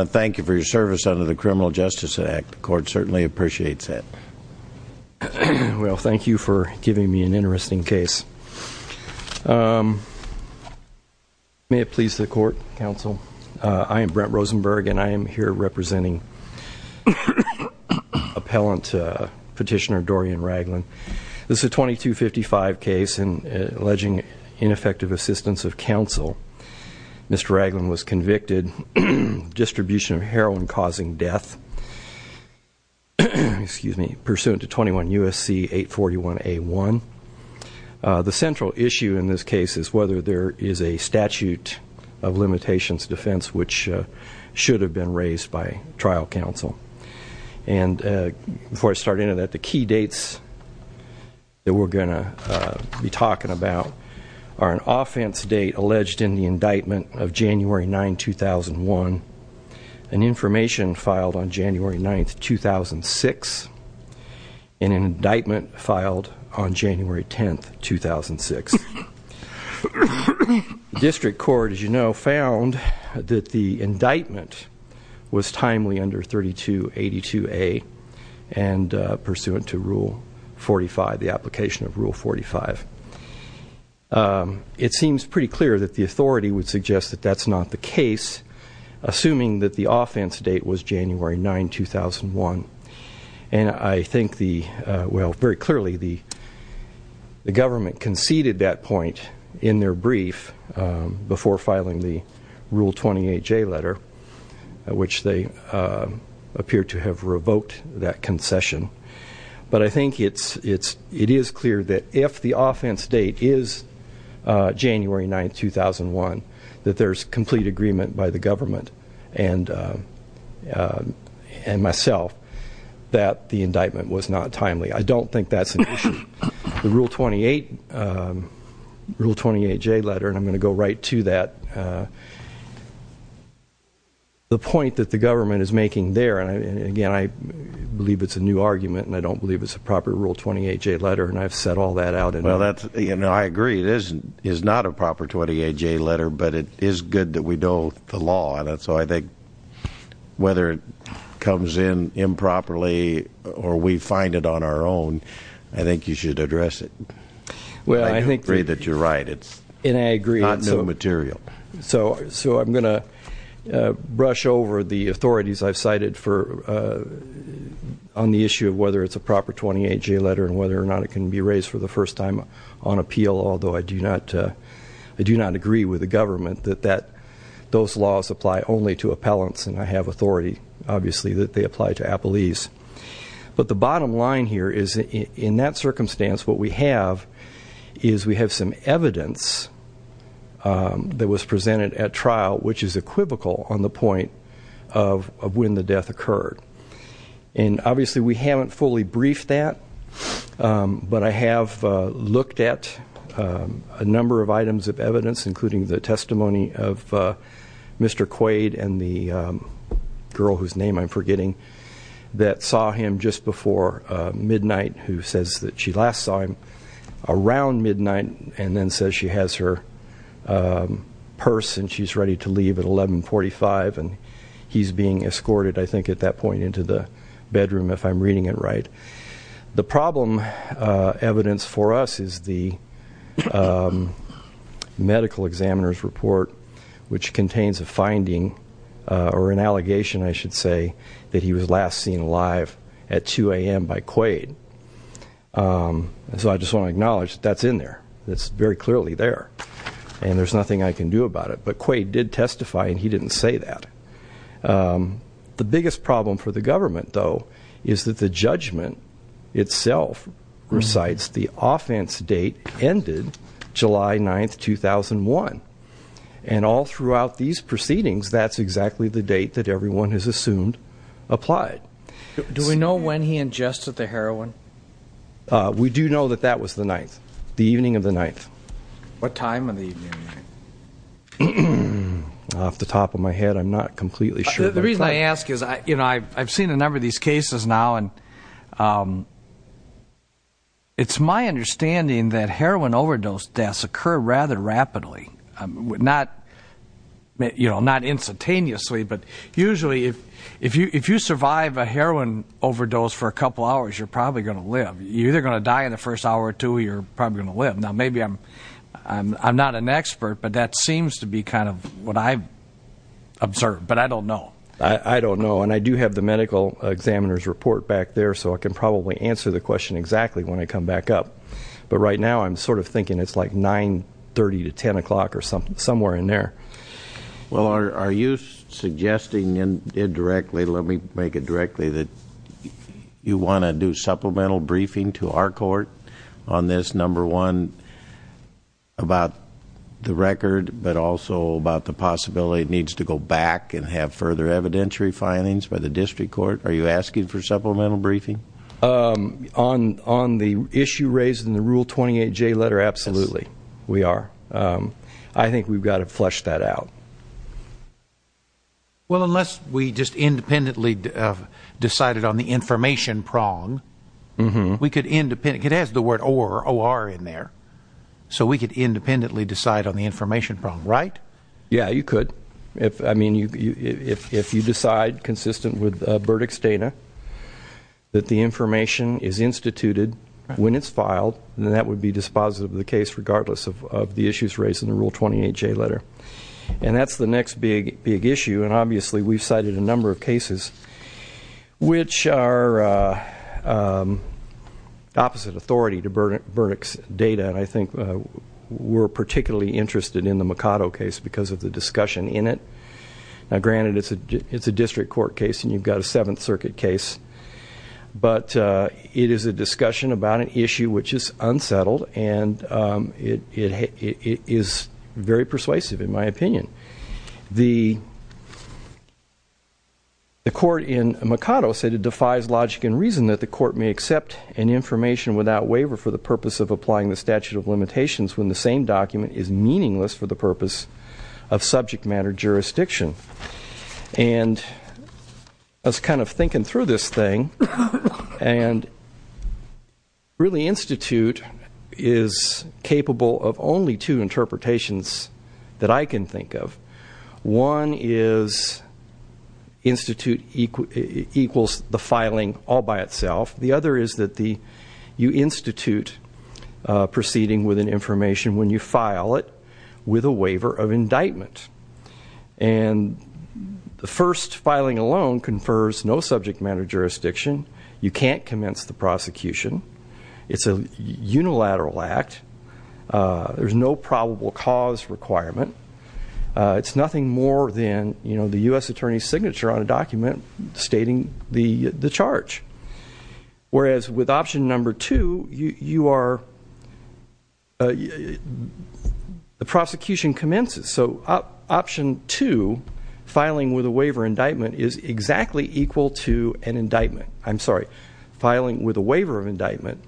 Thank you for your service under the Criminal Justice Act. The court certainly appreciates that. Well, thank you for giving me an interesting case. May it please the court, counsel. I am Brent Rosenberg and I am here representing appellant petitioner Dorian Ragland. This is a 2255 case alleging ineffective assistance of counsel. Mr. Ragland was convicted of distribution of heroin causing death pursuant to 21 U.S.C. 841 A1. The central issue in this case is whether there is a statute of limitations defense which should have been raised by trial counsel. Before I start any of that, the key dates that we're going to be talking about are an offense date alleged in the indictment of January 9, 2001, an information filed on January 9, 2006, and an indictment filed on January 10, 2006. District court, as you know, found that the indictment was timely under 3282A and pursuant to Rule 45, the application of Rule 45. It seems pretty clear that the authority would suggest that that's not the case, assuming that the offense date was January 9, 2001. And I think the well, very clearly the government conceded that point in their brief before filing the Rule 28J letter, which they appear to have revoked that concession. But I think it's it is clear that if the offense date is January 9, 2001, that there's complete agreement by the government and myself that the indictment was not timely. I don't think that's an issue. The Rule 28J letter, and I'm going to go right to that, the point that the government is making there, and again, I believe it's a new argument and I don't believe it's a proper Rule 28J letter, and I've set all that out. I agree. It is not a proper 28J letter, but it is good that we know the law. So I think whether it comes in improperly or we find it on our own, I think you should address it. I agree that you're right. It's not new material. So I'm going to brush over the authorities I've cited on the issue of whether it's a proper 28J letter and whether or not it can be raised for the first time on appeal, although I do not agree with the government that those laws apply only to appellants, and I have authority, obviously, that they apply to appellees. But the bottom line here is in that circumstance what we have is we have some evidence that was presented at trial which is equivocal on the point of when the death occurred. And obviously we haven't fully briefed that, but I have looked at a number of items of evidence, including the testimony of Mr. Quaid and the girl whose name I'm forgetting that saw him just before midnight who says that she last saw him around midnight and then says she has her purse and she's ready to leave at 1145 and he's being escorted, I think, at that point into the bedroom if I'm reading it right. The problem evidence for us is the medical examiner's report which contains a finding or an allegation, I should say, that he was last seen alive at 2 AM by Quaid. So I just want to acknowledge that's in there. It's very clearly there. And there's nothing I can do about it. But Quaid did testify and he didn't say that. The biggest problem for the government, though, is that the judgment itself recites the offense date ended July 9, 2001. And all throughout these proceedings that's exactly the date that everyone has assumed applied. Do we know when he ingested the heroin? We do know that that was the 9th. The evening of the 9th. What time of the evening? Off the top of my head I'm not completely sure. The reason I ask is I've seen a number of these cases now and it's my understanding that heroin overdose deaths occur rather rapidly. Not instantaneously but usually if you survive a heroin overdose for a couple hours you're probably going to live. You're either going to die in the first hour or two you're probably going to live. Now maybe I'm not an expert but that seems to be kind of what I've observed. But I don't know. I don't know. And I do have the medical examiner's report back there so I can probably answer the question exactly when I come back up. But right now I'm sort of thinking it's like 9.30 to 10 o'clock or somewhere in there. Well are you suggesting indirectly let me make it directly that you want to do supplemental briefing to our court on this number one about the record but also about the possibility it needs to go back and have further evidentiary findings by the district court? Are you asking for supplemental briefing? On the issue raised in the Rule 28J letter, absolutely. We are. I think we've got to flesh that out. Well unless we just independently decided on the it has the word or in there. So we could independently decide on the information problem, right? Yeah, you could. I mean if you decide consistent with verdicts data that the information is instituted when it's filed then that would be dispositive of the case regardless of the issues raised in the Rule 28J letter. And that's the next big issue and obviously we've cited a number of cases which are opposite authority to verdicts data and I think we're particularly interested in the Mikado case because of the discussion in it. Now granted it's a district court case and you've got a 7th Circuit case but it is a discussion about an issue which is unsettled and it is very persuasive in my opinion. The court in Mikado said it defies logic and reason that the court may accept an information without waiver for the purpose of applying the statute of limitations when the same document is meaningless for the purpose of subject matter jurisdiction. And I was kind of thinking through this thing and really Institute is capable of only two interpretations that I can think of. One is Institute equals the filing all by itself. The other is that you Institute proceeding with an information when you file it with a waiver of indictment. And the first filing alone confers no subject matter jurisdiction. You can't commence the prosecution. It's a unilateral act. There's no probable cause requirement. It's nothing more than the U.S. attorney's signature on a document stating the charge. Whereas with option number 2 you are the prosecution commences. So option 2 filing with a waiver indictment is exactly equal to an indictment. I'm sorry filing with a waiver of indictment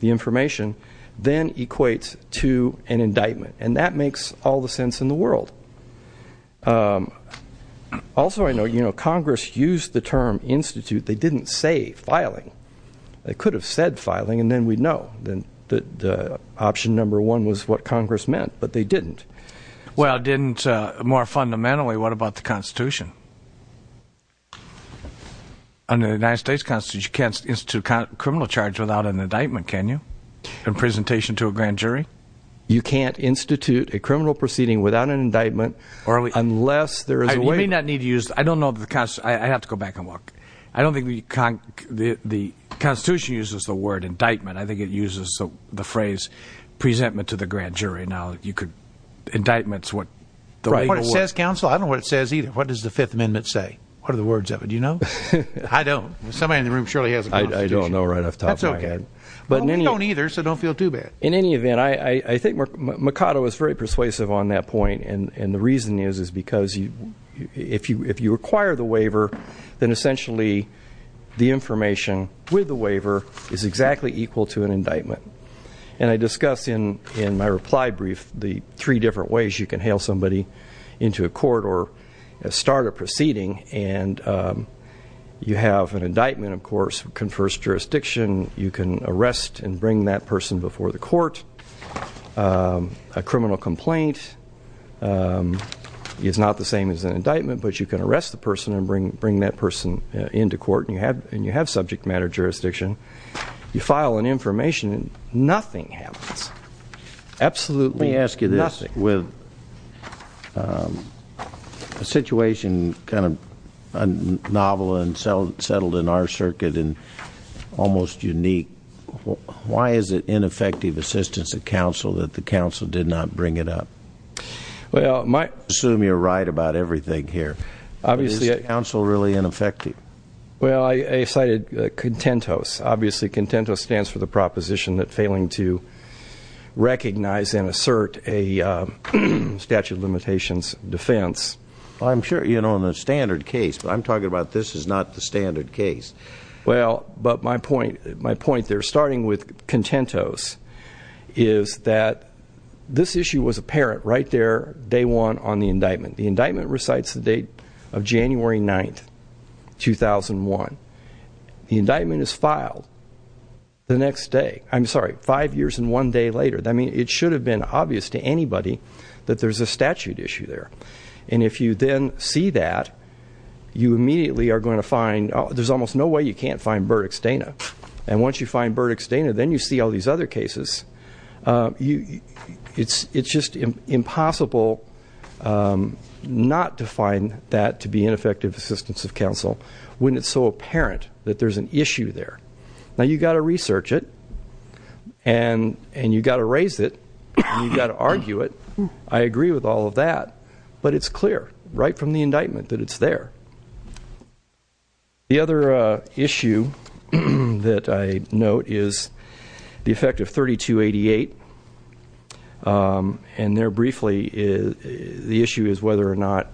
the information then equates to an indictment. And that makes all the sense in the world. Also I know Congress used the term Institute. They didn't say filing. They could have said filing and then we'd know that option number 1 was what Congress meant but they didn't. Well didn't more fundamentally what about the Constitution? Under the United States Constitution you can't institute a criminal charge without an indictment can you? I don't know. I have to go back and look. I don't think the Constitution uses the word indictment. I think it uses the phrase presentment to the grand jury. Indictment is what the label was. I don't know what it says either. What does the 5th Amendment say? I don't. Somebody in the room surely has a Constitution. We don't either so don't feel too bad. In any event I think Mercado is very persuasive on that point and the reason is because if you acquire the waiver then essentially the information with the waiver is exactly equal to an indictment. And I discuss in my reply brief the 3 different ways you can hail somebody into a court or start a proceeding and you have an indictment of course confers jurisdiction. You can arrest and bring that person before the court. A criminal complaint is not the same as an indictment but you can arrest the person and bring that person into court and you have subject matter jurisdiction. You file an information and nothing happens. Absolutely nothing. Let me ask you this with a situation kind of novel and settled in our circuit and almost unique. Why is it ineffective assistance of counsel that the counsel did not bring it up? I assume you're right about everything here. Is the counsel really ineffective? Well I cited CONTENTOS obviously CONTENTOS stands for the proposition that failing to recognize and assert a statute of limitations defense. I'm sure you know the standard case but I'm talking about this is not the standard case. Well but my point there starting with CONTENTOS is that this issue was apparent right there day 1 on the indictment. The indictment recites the date of January 9, 2001. The indictment is filed the next day. I'm sorry 5 years and 1 day later. I mean it should have been obvious to anybody that there's a statute issue there. And if you then see that you immediately are going to find there's almost no way you can't find Burdick-Stana. And once you find Burdick-Stana then you see all these other cases it's just impossible not to find that to be ineffective assistance of counsel when it's so apparent that there's an issue there. Now you've got to research it and you've got to raise it and you've got to argue it. I agree with all of that. But it's clear right from the indictment that it's there. The other issue that I note is the effect of 3288 and there briefly the issue is whether or not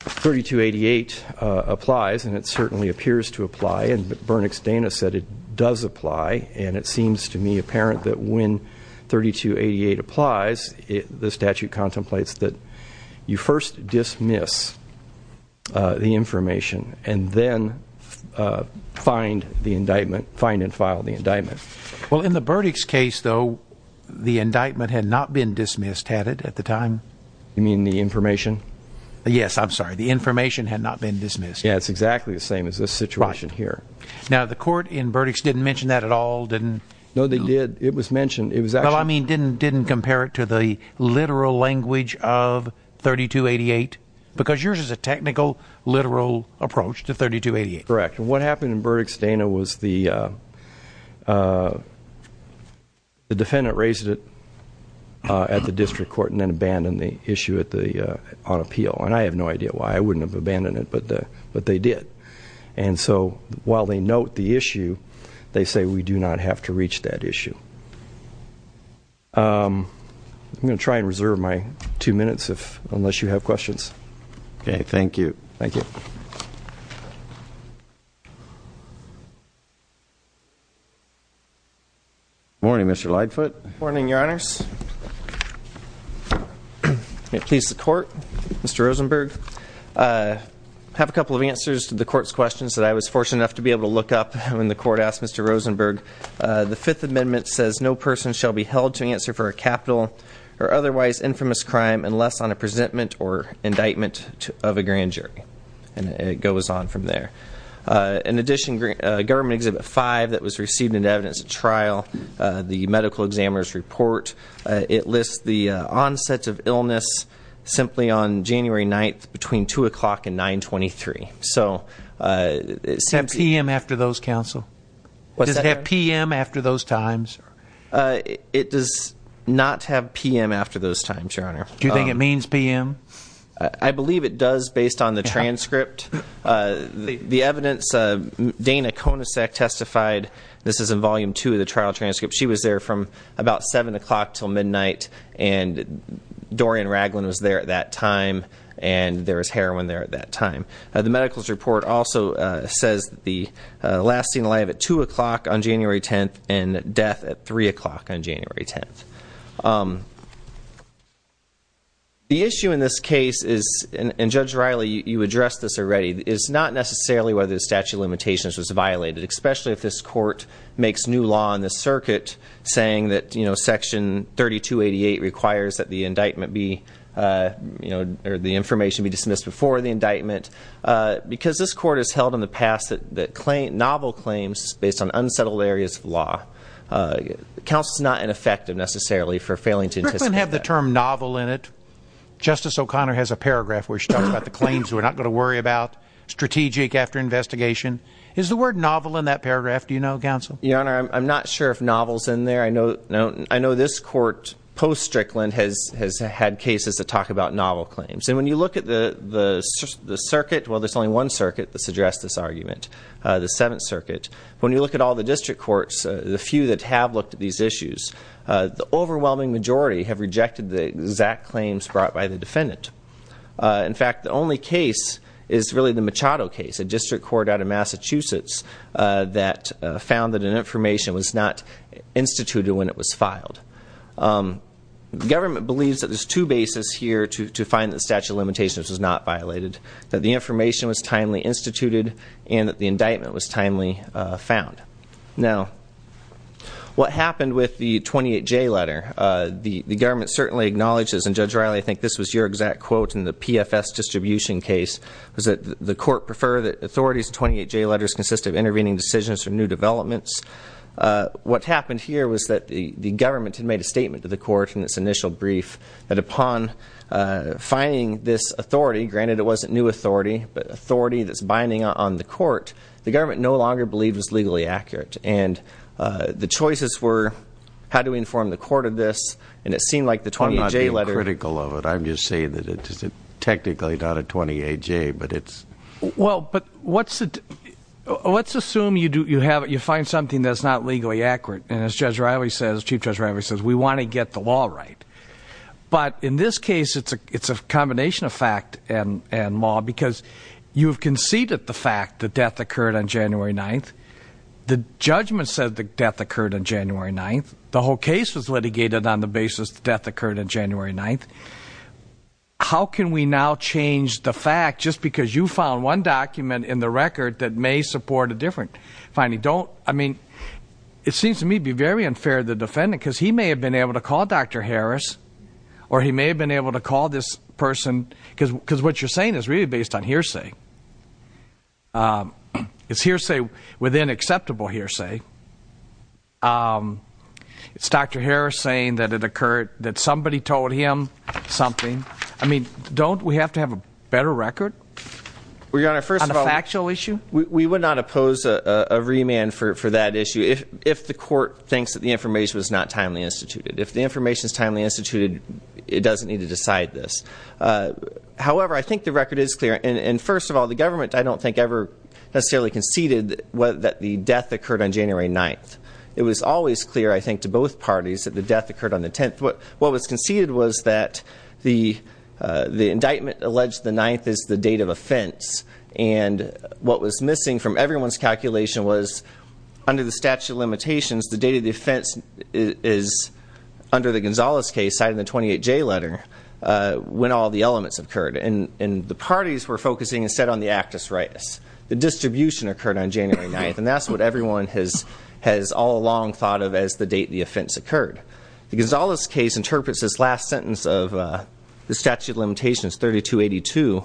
3288 applies and it certainly appears to apply and Burdick-Stana said it does apply and it seems to me apparent that when 3288 applies the statute contemplates that you first dismiss the information and then find the indictment, find and file the indictment. Well in the Burdick's case though the indictment had not been dismissed had it at the time? You mean the information? Yes I'm sorry the information had not been dismissed. Yeah it's exactly the same as this situation here. Now the court in Burdick's didn't mention that at all? No they did it was mentioned Well I mean didn't compare it to the literal language of 3288 because yours is a technical literal approach to 3288. Correct what happened in Burdick-Stana was the defendant raised it at the district court and then abandoned the issue on appeal and I have no idea why I wouldn't have abandoned it but they did and so while they note the issue they say we do not have to reach that issue. I'm going to try and reserve my two minutes unless you have questions Okay thank you. Thank you. Morning Mr. Lightfoot. Morning your honors. May it please the court. Mr. Rosenberg I have a couple of answers to the court's questions that I was fortunate enough to be able to look up when the court asked Mr. Rosenberg the fifth amendment says no person shall be held to answer for a capital or otherwise infamous crime unless on a presentment or indictment of a grand jury and it goes on from there. In addition government exhibit five that was received in evidence at trial the medical examiner's report it lists the onset of illness simply on January 9th between 2 o'clock and 923 so Does it have p.m. after those counsel? Does it have p.m. after those times? It does not have p.m. after those times your honor. Do you think it means p.m.? I believe it does based on the transcript. The evidence Dana Konasek testified this is in volume two of the trial transcript she was there from about 7 o'clock till midnight and Dorian Ragland was there at that time and there was heroin there at that time. The medicals report also says the lasting life at 2 o'clock on January 10th and death at 3 o'clock on January 10th. The issue in this case is and Judge Riley you addressed this already is not necessarily whether the statute of limitations was violated especially if this court makes new law in this circuit saying that section 3288 requires that the indictment be or the information be dismissed before the indictment because this court has held in the past that novel claims based on unsettled areas of law. Counsel is not ineffective necessarily for failing to anticipate that. Does Strickland have the term novel in it? Justice O'Connor has a paragraph where she talks about the claims we're not going to worry about strategic after investigation. Is the word novel in that paragraph do you know Counsel? Your honor I'm not sure if novel is in there. I know this court post talks about novel claims and when you look at the circuit well there's only one circuit that's addressed this argument. The 7th circuit. When you look at all the district courts the few that have looked at these issues the overwhelming majority have rejected the exact claims brought by the defendant. In fact the only case is really the Machado case a district court out of Massachusetts that found that an information was not instituted when it was filed. The government believes that there's two bases here to find that statute of limitations was not violated. That the information was timely instituted and that the indictment was timely found. Now what happened with the 28J letter the government certainly acknowledges and Judge Riley I think this was your exact quote in the PFS distribution case was that the court preferred that authorities 28J letters consist of intervening decisions or new developments. What happened here was that the government had made a statement to the court in its initial brief that upon finding this authority granted it wasn't new authority but authority that's binding on the court the government no longer believed was legally accurate and the choices were how do we inform the court of this and it seemed like the 28J letter. I'm not being critical of it I'm just saying that it's technically not a 28J but it's. Well but what's let's assume you find something that's not legally accurate and as Judge Riley says, Chief Judge Riley says we want to get the law right but in this case it's a combination of fact and law because you've conceded the fact that death occurred on January 9th. The judgment said the death occurred on January 9th the whole case was litigated on the basis the death occurred on January 9th how can we now change the fact just because you found one document in the record that may support a different finding don't I mean it seems to me to be very unfair to the defendant because he may have been able to call Dr. Harris or he may have been able to call this person because what you're saying is really based on hearsay it's hearsay within acceptable hearsay it's Dr. Harris saying that it occurred that somebody told him something I mean don't we have to have a better record on a factual issue we would not oppose a remand for that issue if the court thinks that the information was not timely instituted if the information is timely instituted it doesn't need to decide this however I think the record is clear and first of all the government I don't think ever necessarily conceded that the death occurred on January 9th it was always clear I think to both parties that the death occurred on the 10th what was conceded was that the indictment alleged the 9th is the date of offense and what was missing from everyone's calculation was under the statute of limitations the date of the offense is under the Gonzales case cited in the 28J letter when all the elements occurred and the parties were focusing instead on the actus ritus the distribution occurred on January 9th and that's what everyone has all along thought of as the date the offense occurred the Gonzales case interprets this last sentence of the statute of limitations 3282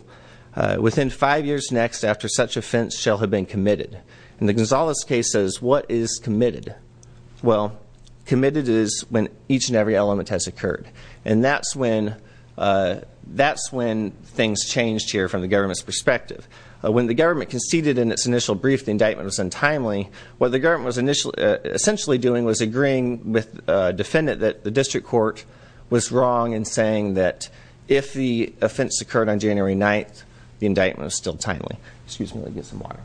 within five years next after such offense shall have been committed and the Gonzales case says what is committed well committed is when each and every element has occurred and that's when that's when things changed here from the government's perspective when the government conceded in its initial brief the indictment was untimely what the government was essentially doing was agreeing with a defendant that the district court was wrong in saying that if the offense occurred on January 9th the indictment was still timely. Excuse me let me get some water.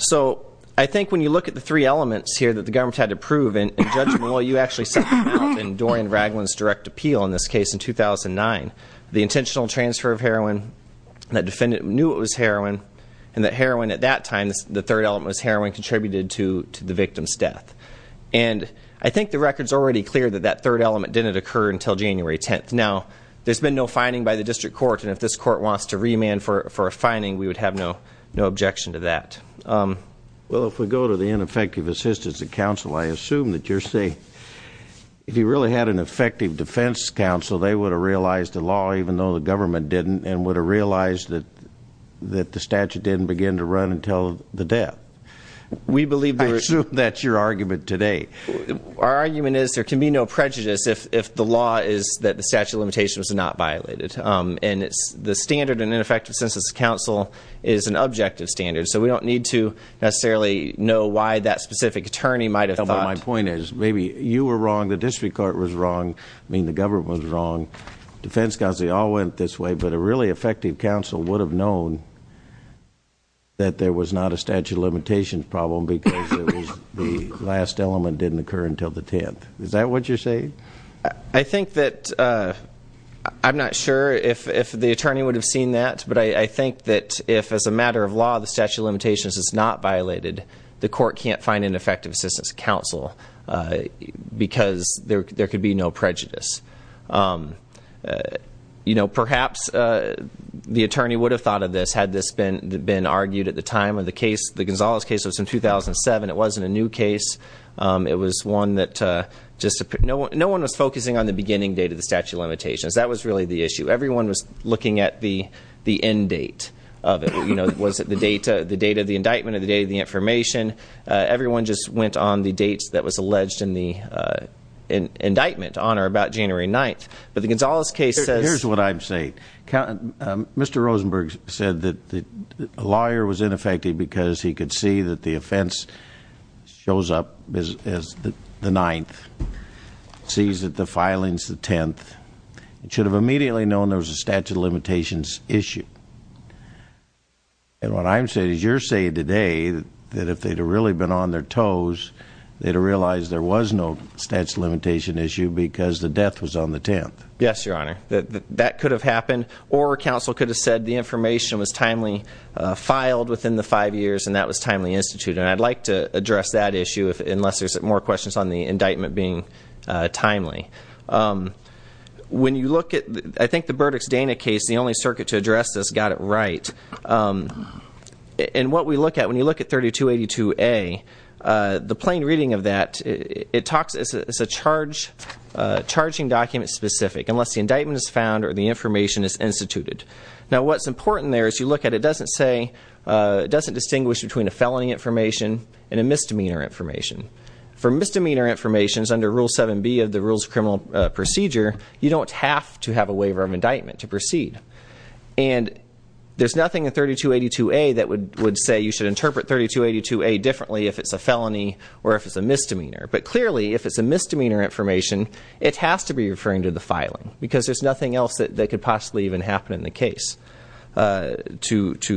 So I think when you look at the three elements here that the government had to prove in judgment well you actually sent them out in Dorian Ragland's direct appeal in this case in 2009 the intentional transfer of heroin that defendant knew it was heroin and that heroin at that time the third element was heroin contributed to the victim's death and I think the record's already clear that that third element didn't occur until January 10th now there's been no finding by the district court and if this court wants to remand for a finding we would have no objection to that. Well if we go to the ineffective assistance of counsel I assume that you're saying if you really had an effective defense counsel they would have realized the law even though the government didn't and would have realized that the statute didn't begin to run until the death. We believe I assume that's your argument today. Our argument is there can be no prejudice if the law is that the statute of limitations was not violated and the standard in ineffective assistance of counsel is an objective standard so we don't need to necessarily know why that specific attorney might have My point is maybe you were wrong, the district court was wrong, I mean the government was wrong, defense counsel they all went this way but a really effective counsel would have known that there was not a statute of limitations problem because the last element didn't occur until the 10th. Is that what you're saying? I think that I'm not sure if the attorney would have seen that but I think that if as a matter of law the statute of limitations is not violated the defense counsel because there could be no prejudice Perhaps the attorney would have thought of this had this been argued at the time of the case the Gonzalez case was in 2007, it wasn't a new case, it was one that no one was focusing on the beginning date of the statute of limitations that was really the issue, everyone was looking at the end date of it, was it the date of the indictment or the date of the information everyone just went on the dates that was alleged in the indictment on or about January 9th, but the Gonzalez case says Here's what I'm saying, Mr. Rosenberg said that a lawyer was ineffective because he could see that the offense shows up as the 9th, sees that the filing's the 10th, should have immediately known there was a statute of limitations issue, and what I'm saying is you're saying today that if they'd have really been on their toes they'd have realized there was no statute of limitations issue because the death was on the 10th. Yes, your honor, that could have happened or counsel could have said the information was timely filed within the five years and that was timely instituted and I'd like to address that issue unless there's more questions on the indictment being timely. When you look at, I think the Burdick's Dana case, the only circuit to address this got it right and what we look at, when you look at 3282A the plain reading of that, it talks, it's a charging document specific, unless the indictment is found or the information is instituted. Now what's important there is you look at it doesn't say it doesn't distinguish between a felony information and a misdemeanor information. For misdemeanor information under Rule 7B of the Rules of Criminal Procedure, you don't have to have a waiver of indictment to proceed and there's nothing in 3282A that would say you should interpret 3282A differently if it's a felony or if it's a misdemeanor. But clearly if it's a misdemeanor information, it has to be referring to the filing because there's nothing else that could possibly even happen in the case to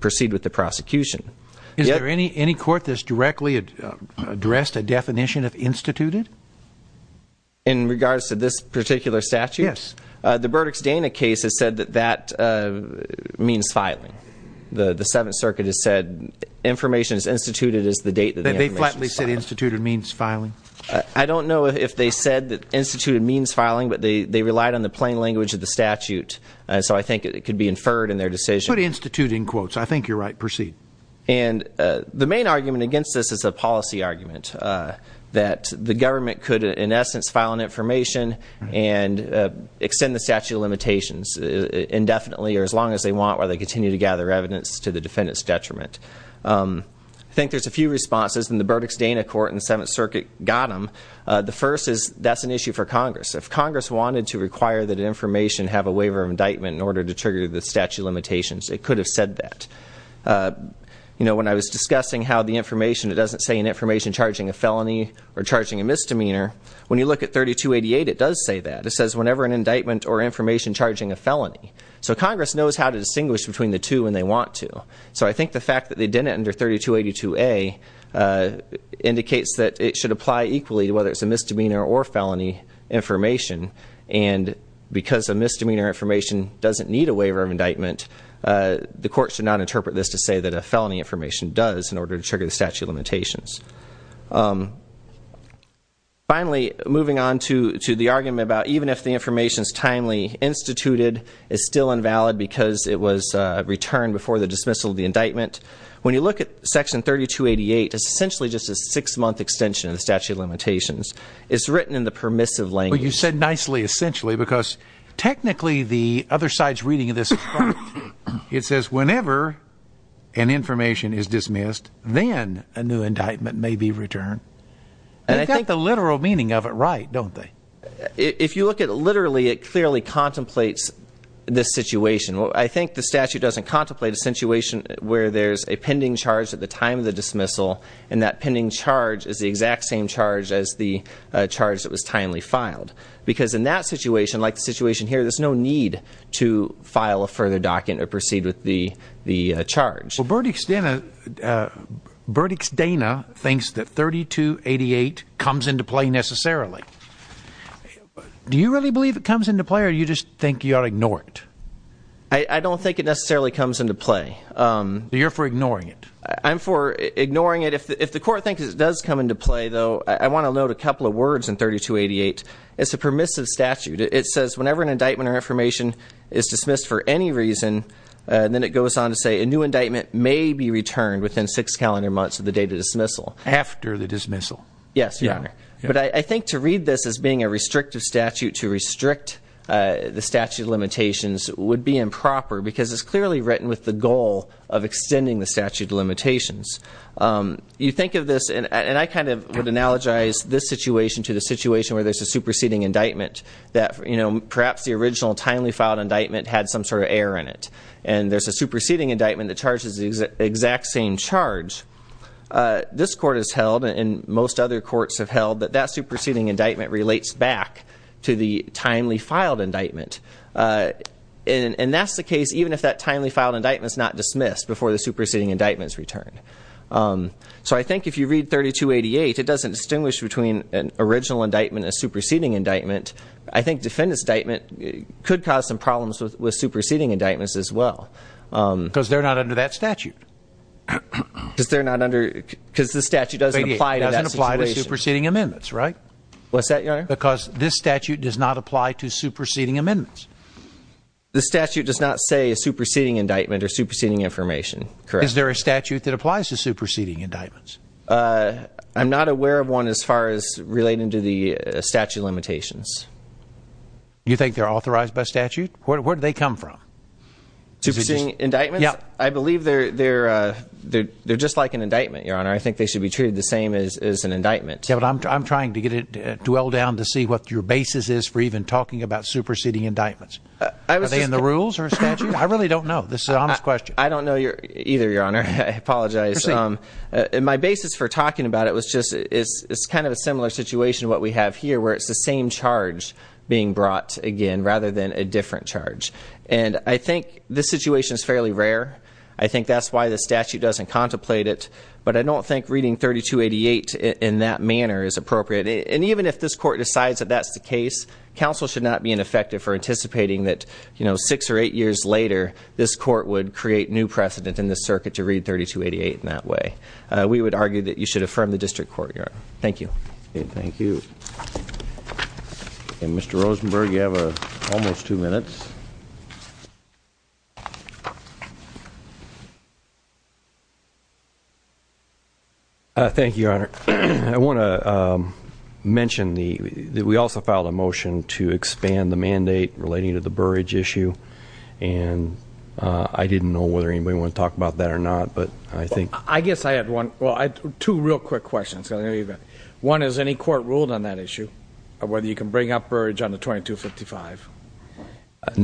proceed with the prosecution. Is there any court that's directly addressed a definition of instituted? In regards to this particular statute? Yes. The Burdick's Dana case has said that that means filing. The Seventh Circuit has said information is instituted as the date that the information is filed. They flatly said instituted means filing? I don't know if they said that instituted means filing but they relied on the plain language of the statute so I think it could be inferred in their decision. Put instituted in quotes. I think you're right. Proceed. And the main argument against this is a policy argument that the government could in essence file an information and extend the statute of limitations indefinitely or as long as they want while they continue to gather evidence to the defendant's detriment. I think there's a few responses and the Burdick's Dana court in the Seventh Circuit got them. The first is that's an issue for Congress. If Congress wanted to require that information have a waiver of indictment in order to trigger the statute of limitations, it could have said that. When I was discussing how the information, it doesn't say in information charging a felony. When you look at 3288, it does say that. It says whenever an indictment or information charging a felony. So Congress knows how to distinguish between the two when they want to. So I think the fact that they did it under 3282A indicates that it should apply equally to whether it's a misdemeanor or felony information and because a misdemeanor information doesn't need a waiver of indictment, the court should not interpret this to say that a felony information does in order to trigger the statute of limitations. Finally, moving on to the argument about even if the information is timely instituted is still invalid because it was returned before the dismissal of the indictment. When you look at section 3288, it's essentially just a six-month extension of the statute of limitations. It's written in the permissive language. But you said nicely essentially because technically the other side's reading of this it says whenever an information is dismissed then a new indictment may be returned. They've got the literal meaning of it right, don't they? If you look at literally, it clearly contemplates this situation. I think the statute doesn't contemplate a situation where there's a pending charge at the time of the dismissal and that pending charge is the exact same charge as the charge that was timely filed. Because in that situation, like the situation here, there's no need to file a further document or proceed with the charge. Well, Burdick's Dana thinks that 3288 comes into play necessarily. Do you really believe it comes into play or do you just think you ought to ignore it? I don't think it necessarily comes into play. You're for ignoring it? I'm for ignoring it. If the court thinks it does come into play, though I want to note a couple of words in 3288. It's a permissive statute. It says whenever an indictment or information is dismissed for any reason then it goes on to say a new indictment may be returned within six calendar months of the date of dismissal. After the dismissal? Yes, Your Honor. But I think to read this as being a restrictive statute to restrict the statute of limitations would be improper because it's clearly written with the goal of extending the statute of limitations. You think of this, and I kind of would analogize this situation to the situation where there's a superseding indictment that perhaps the original timely filed indictment had some sort of error in it. And there's a superseding indictment that charges the exact same charge. This court has held, and most other courts have held, that that superseding indictment relates back to the timely filed indictment. And that's the case even if that timely filed indictment is not dismissed before the superseding indictment is returned. So I think if you read 3288 it doesn't distinguish between an original indictment and a superseding indictment. I think defendant's indictment could cause some problems with superseding indictments as well. Because they're not under that statute. Because they're not under, because the statute doesn't apply to that situation. It doesn't apply to superseding amendments, right? What's that, Your Honor? Because this statute does not apply to superseding amendments. The statute does not say a superseding indictment or superseding information, correct. Is there a statute that applies to superseding indictments? I'm not aware of one as far as relating to the statute limitations. You think they're authorized by statute? Where do they come from? Superseding indictments? I believe they're just like an indictment, Your Honor. I think they should be treated the same as an indictment. Yeah, but I'm trying to get it, dwell down to see what your basis is for even talking about superseding indictments. Are they in the rules or statute? I really don't know. This is an honest question. I don't know either, Your Honor. I apologize. My basis for talking about it was just it's kind of a similar situation to what we have here where it's the same charge being brought again rather than a different charge. And I think this situation is fairly rare. I think that's why the statute doesn't contemplate it. But I don't think reading 3288 in that manner is appropriate. And even if this court decides that that's the case, counsel should not be ineffective for anticipating that six or eight years later this court would create new precedent in this circuit to read 3288 in that way. We would argue that you should affirm the district court, Your Honor. Thank you. Thank you. And Mr. Rosenberg, you have almost two minutes. Thank you, Your Honor. I want to mention that we also filed a motion to expand the mandate relating to the Burridge issue. And I didn't know whether anybody wanted to talk about that or not. I guess I had two real quick questions. One, has any court ruled on that issue of whether you can bring up Burridge on the 2255?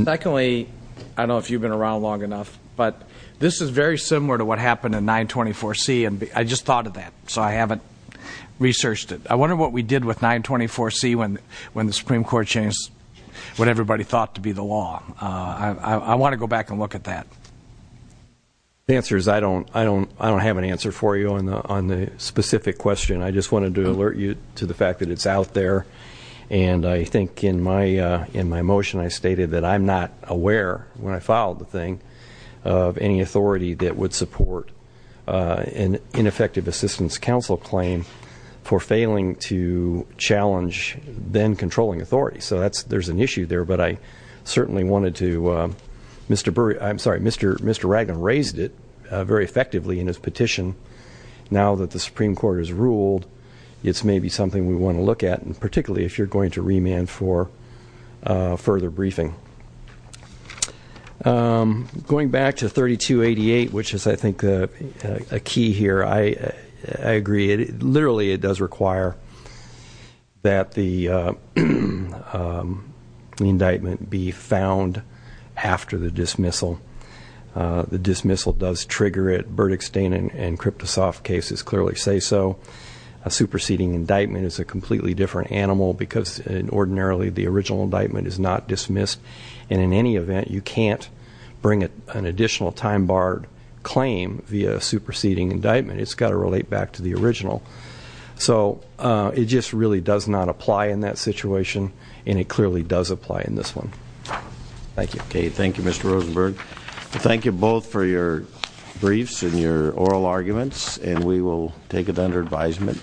Secondly, I don't know if you've been around long enough, but this is very similar to what happened in 924C. I just thought of that, so I haven't researched it. I wonder what we did with 924C when the Supreme Court changed what everybody thought to be the law. I want to go back and look at that. The answer is I don't have an answer for you on the specific question. I just wanted to alert you to the fact that it's out there. And I think in my motion I stated that I'm not aware, when I filed the thing, of any authority that would support an ineffective assistance counsel claim for failing to challenge then controlling authority. So there's an issue there. But I certainly wanted to point out that Mr. Ragdon raised it very effectively in his petition. Now that the Supreme Court has ruled it's maybe something we want to look at, particularly if you're going to remand for further briefing. Going back to 3288, which is I think a key here, I agree. Literally it does require that the original indictment be submitted after the dismissal. The dismissal does trigger it. Burdick, Stain and Kriptosoff cases clearly say so. A superseding indictment is a completely different animal because ordinarily the original indictment is not dismissed and in any event you can't bring an additional time-barred claim via a superseding indictment. It's got to relate back to the original. So it just really does not apply in that situation and it clearly does apply in this one. Thank you Mr. Rosenberg. Thank you both for your briefs and your oral arguments and we will take it under advisement.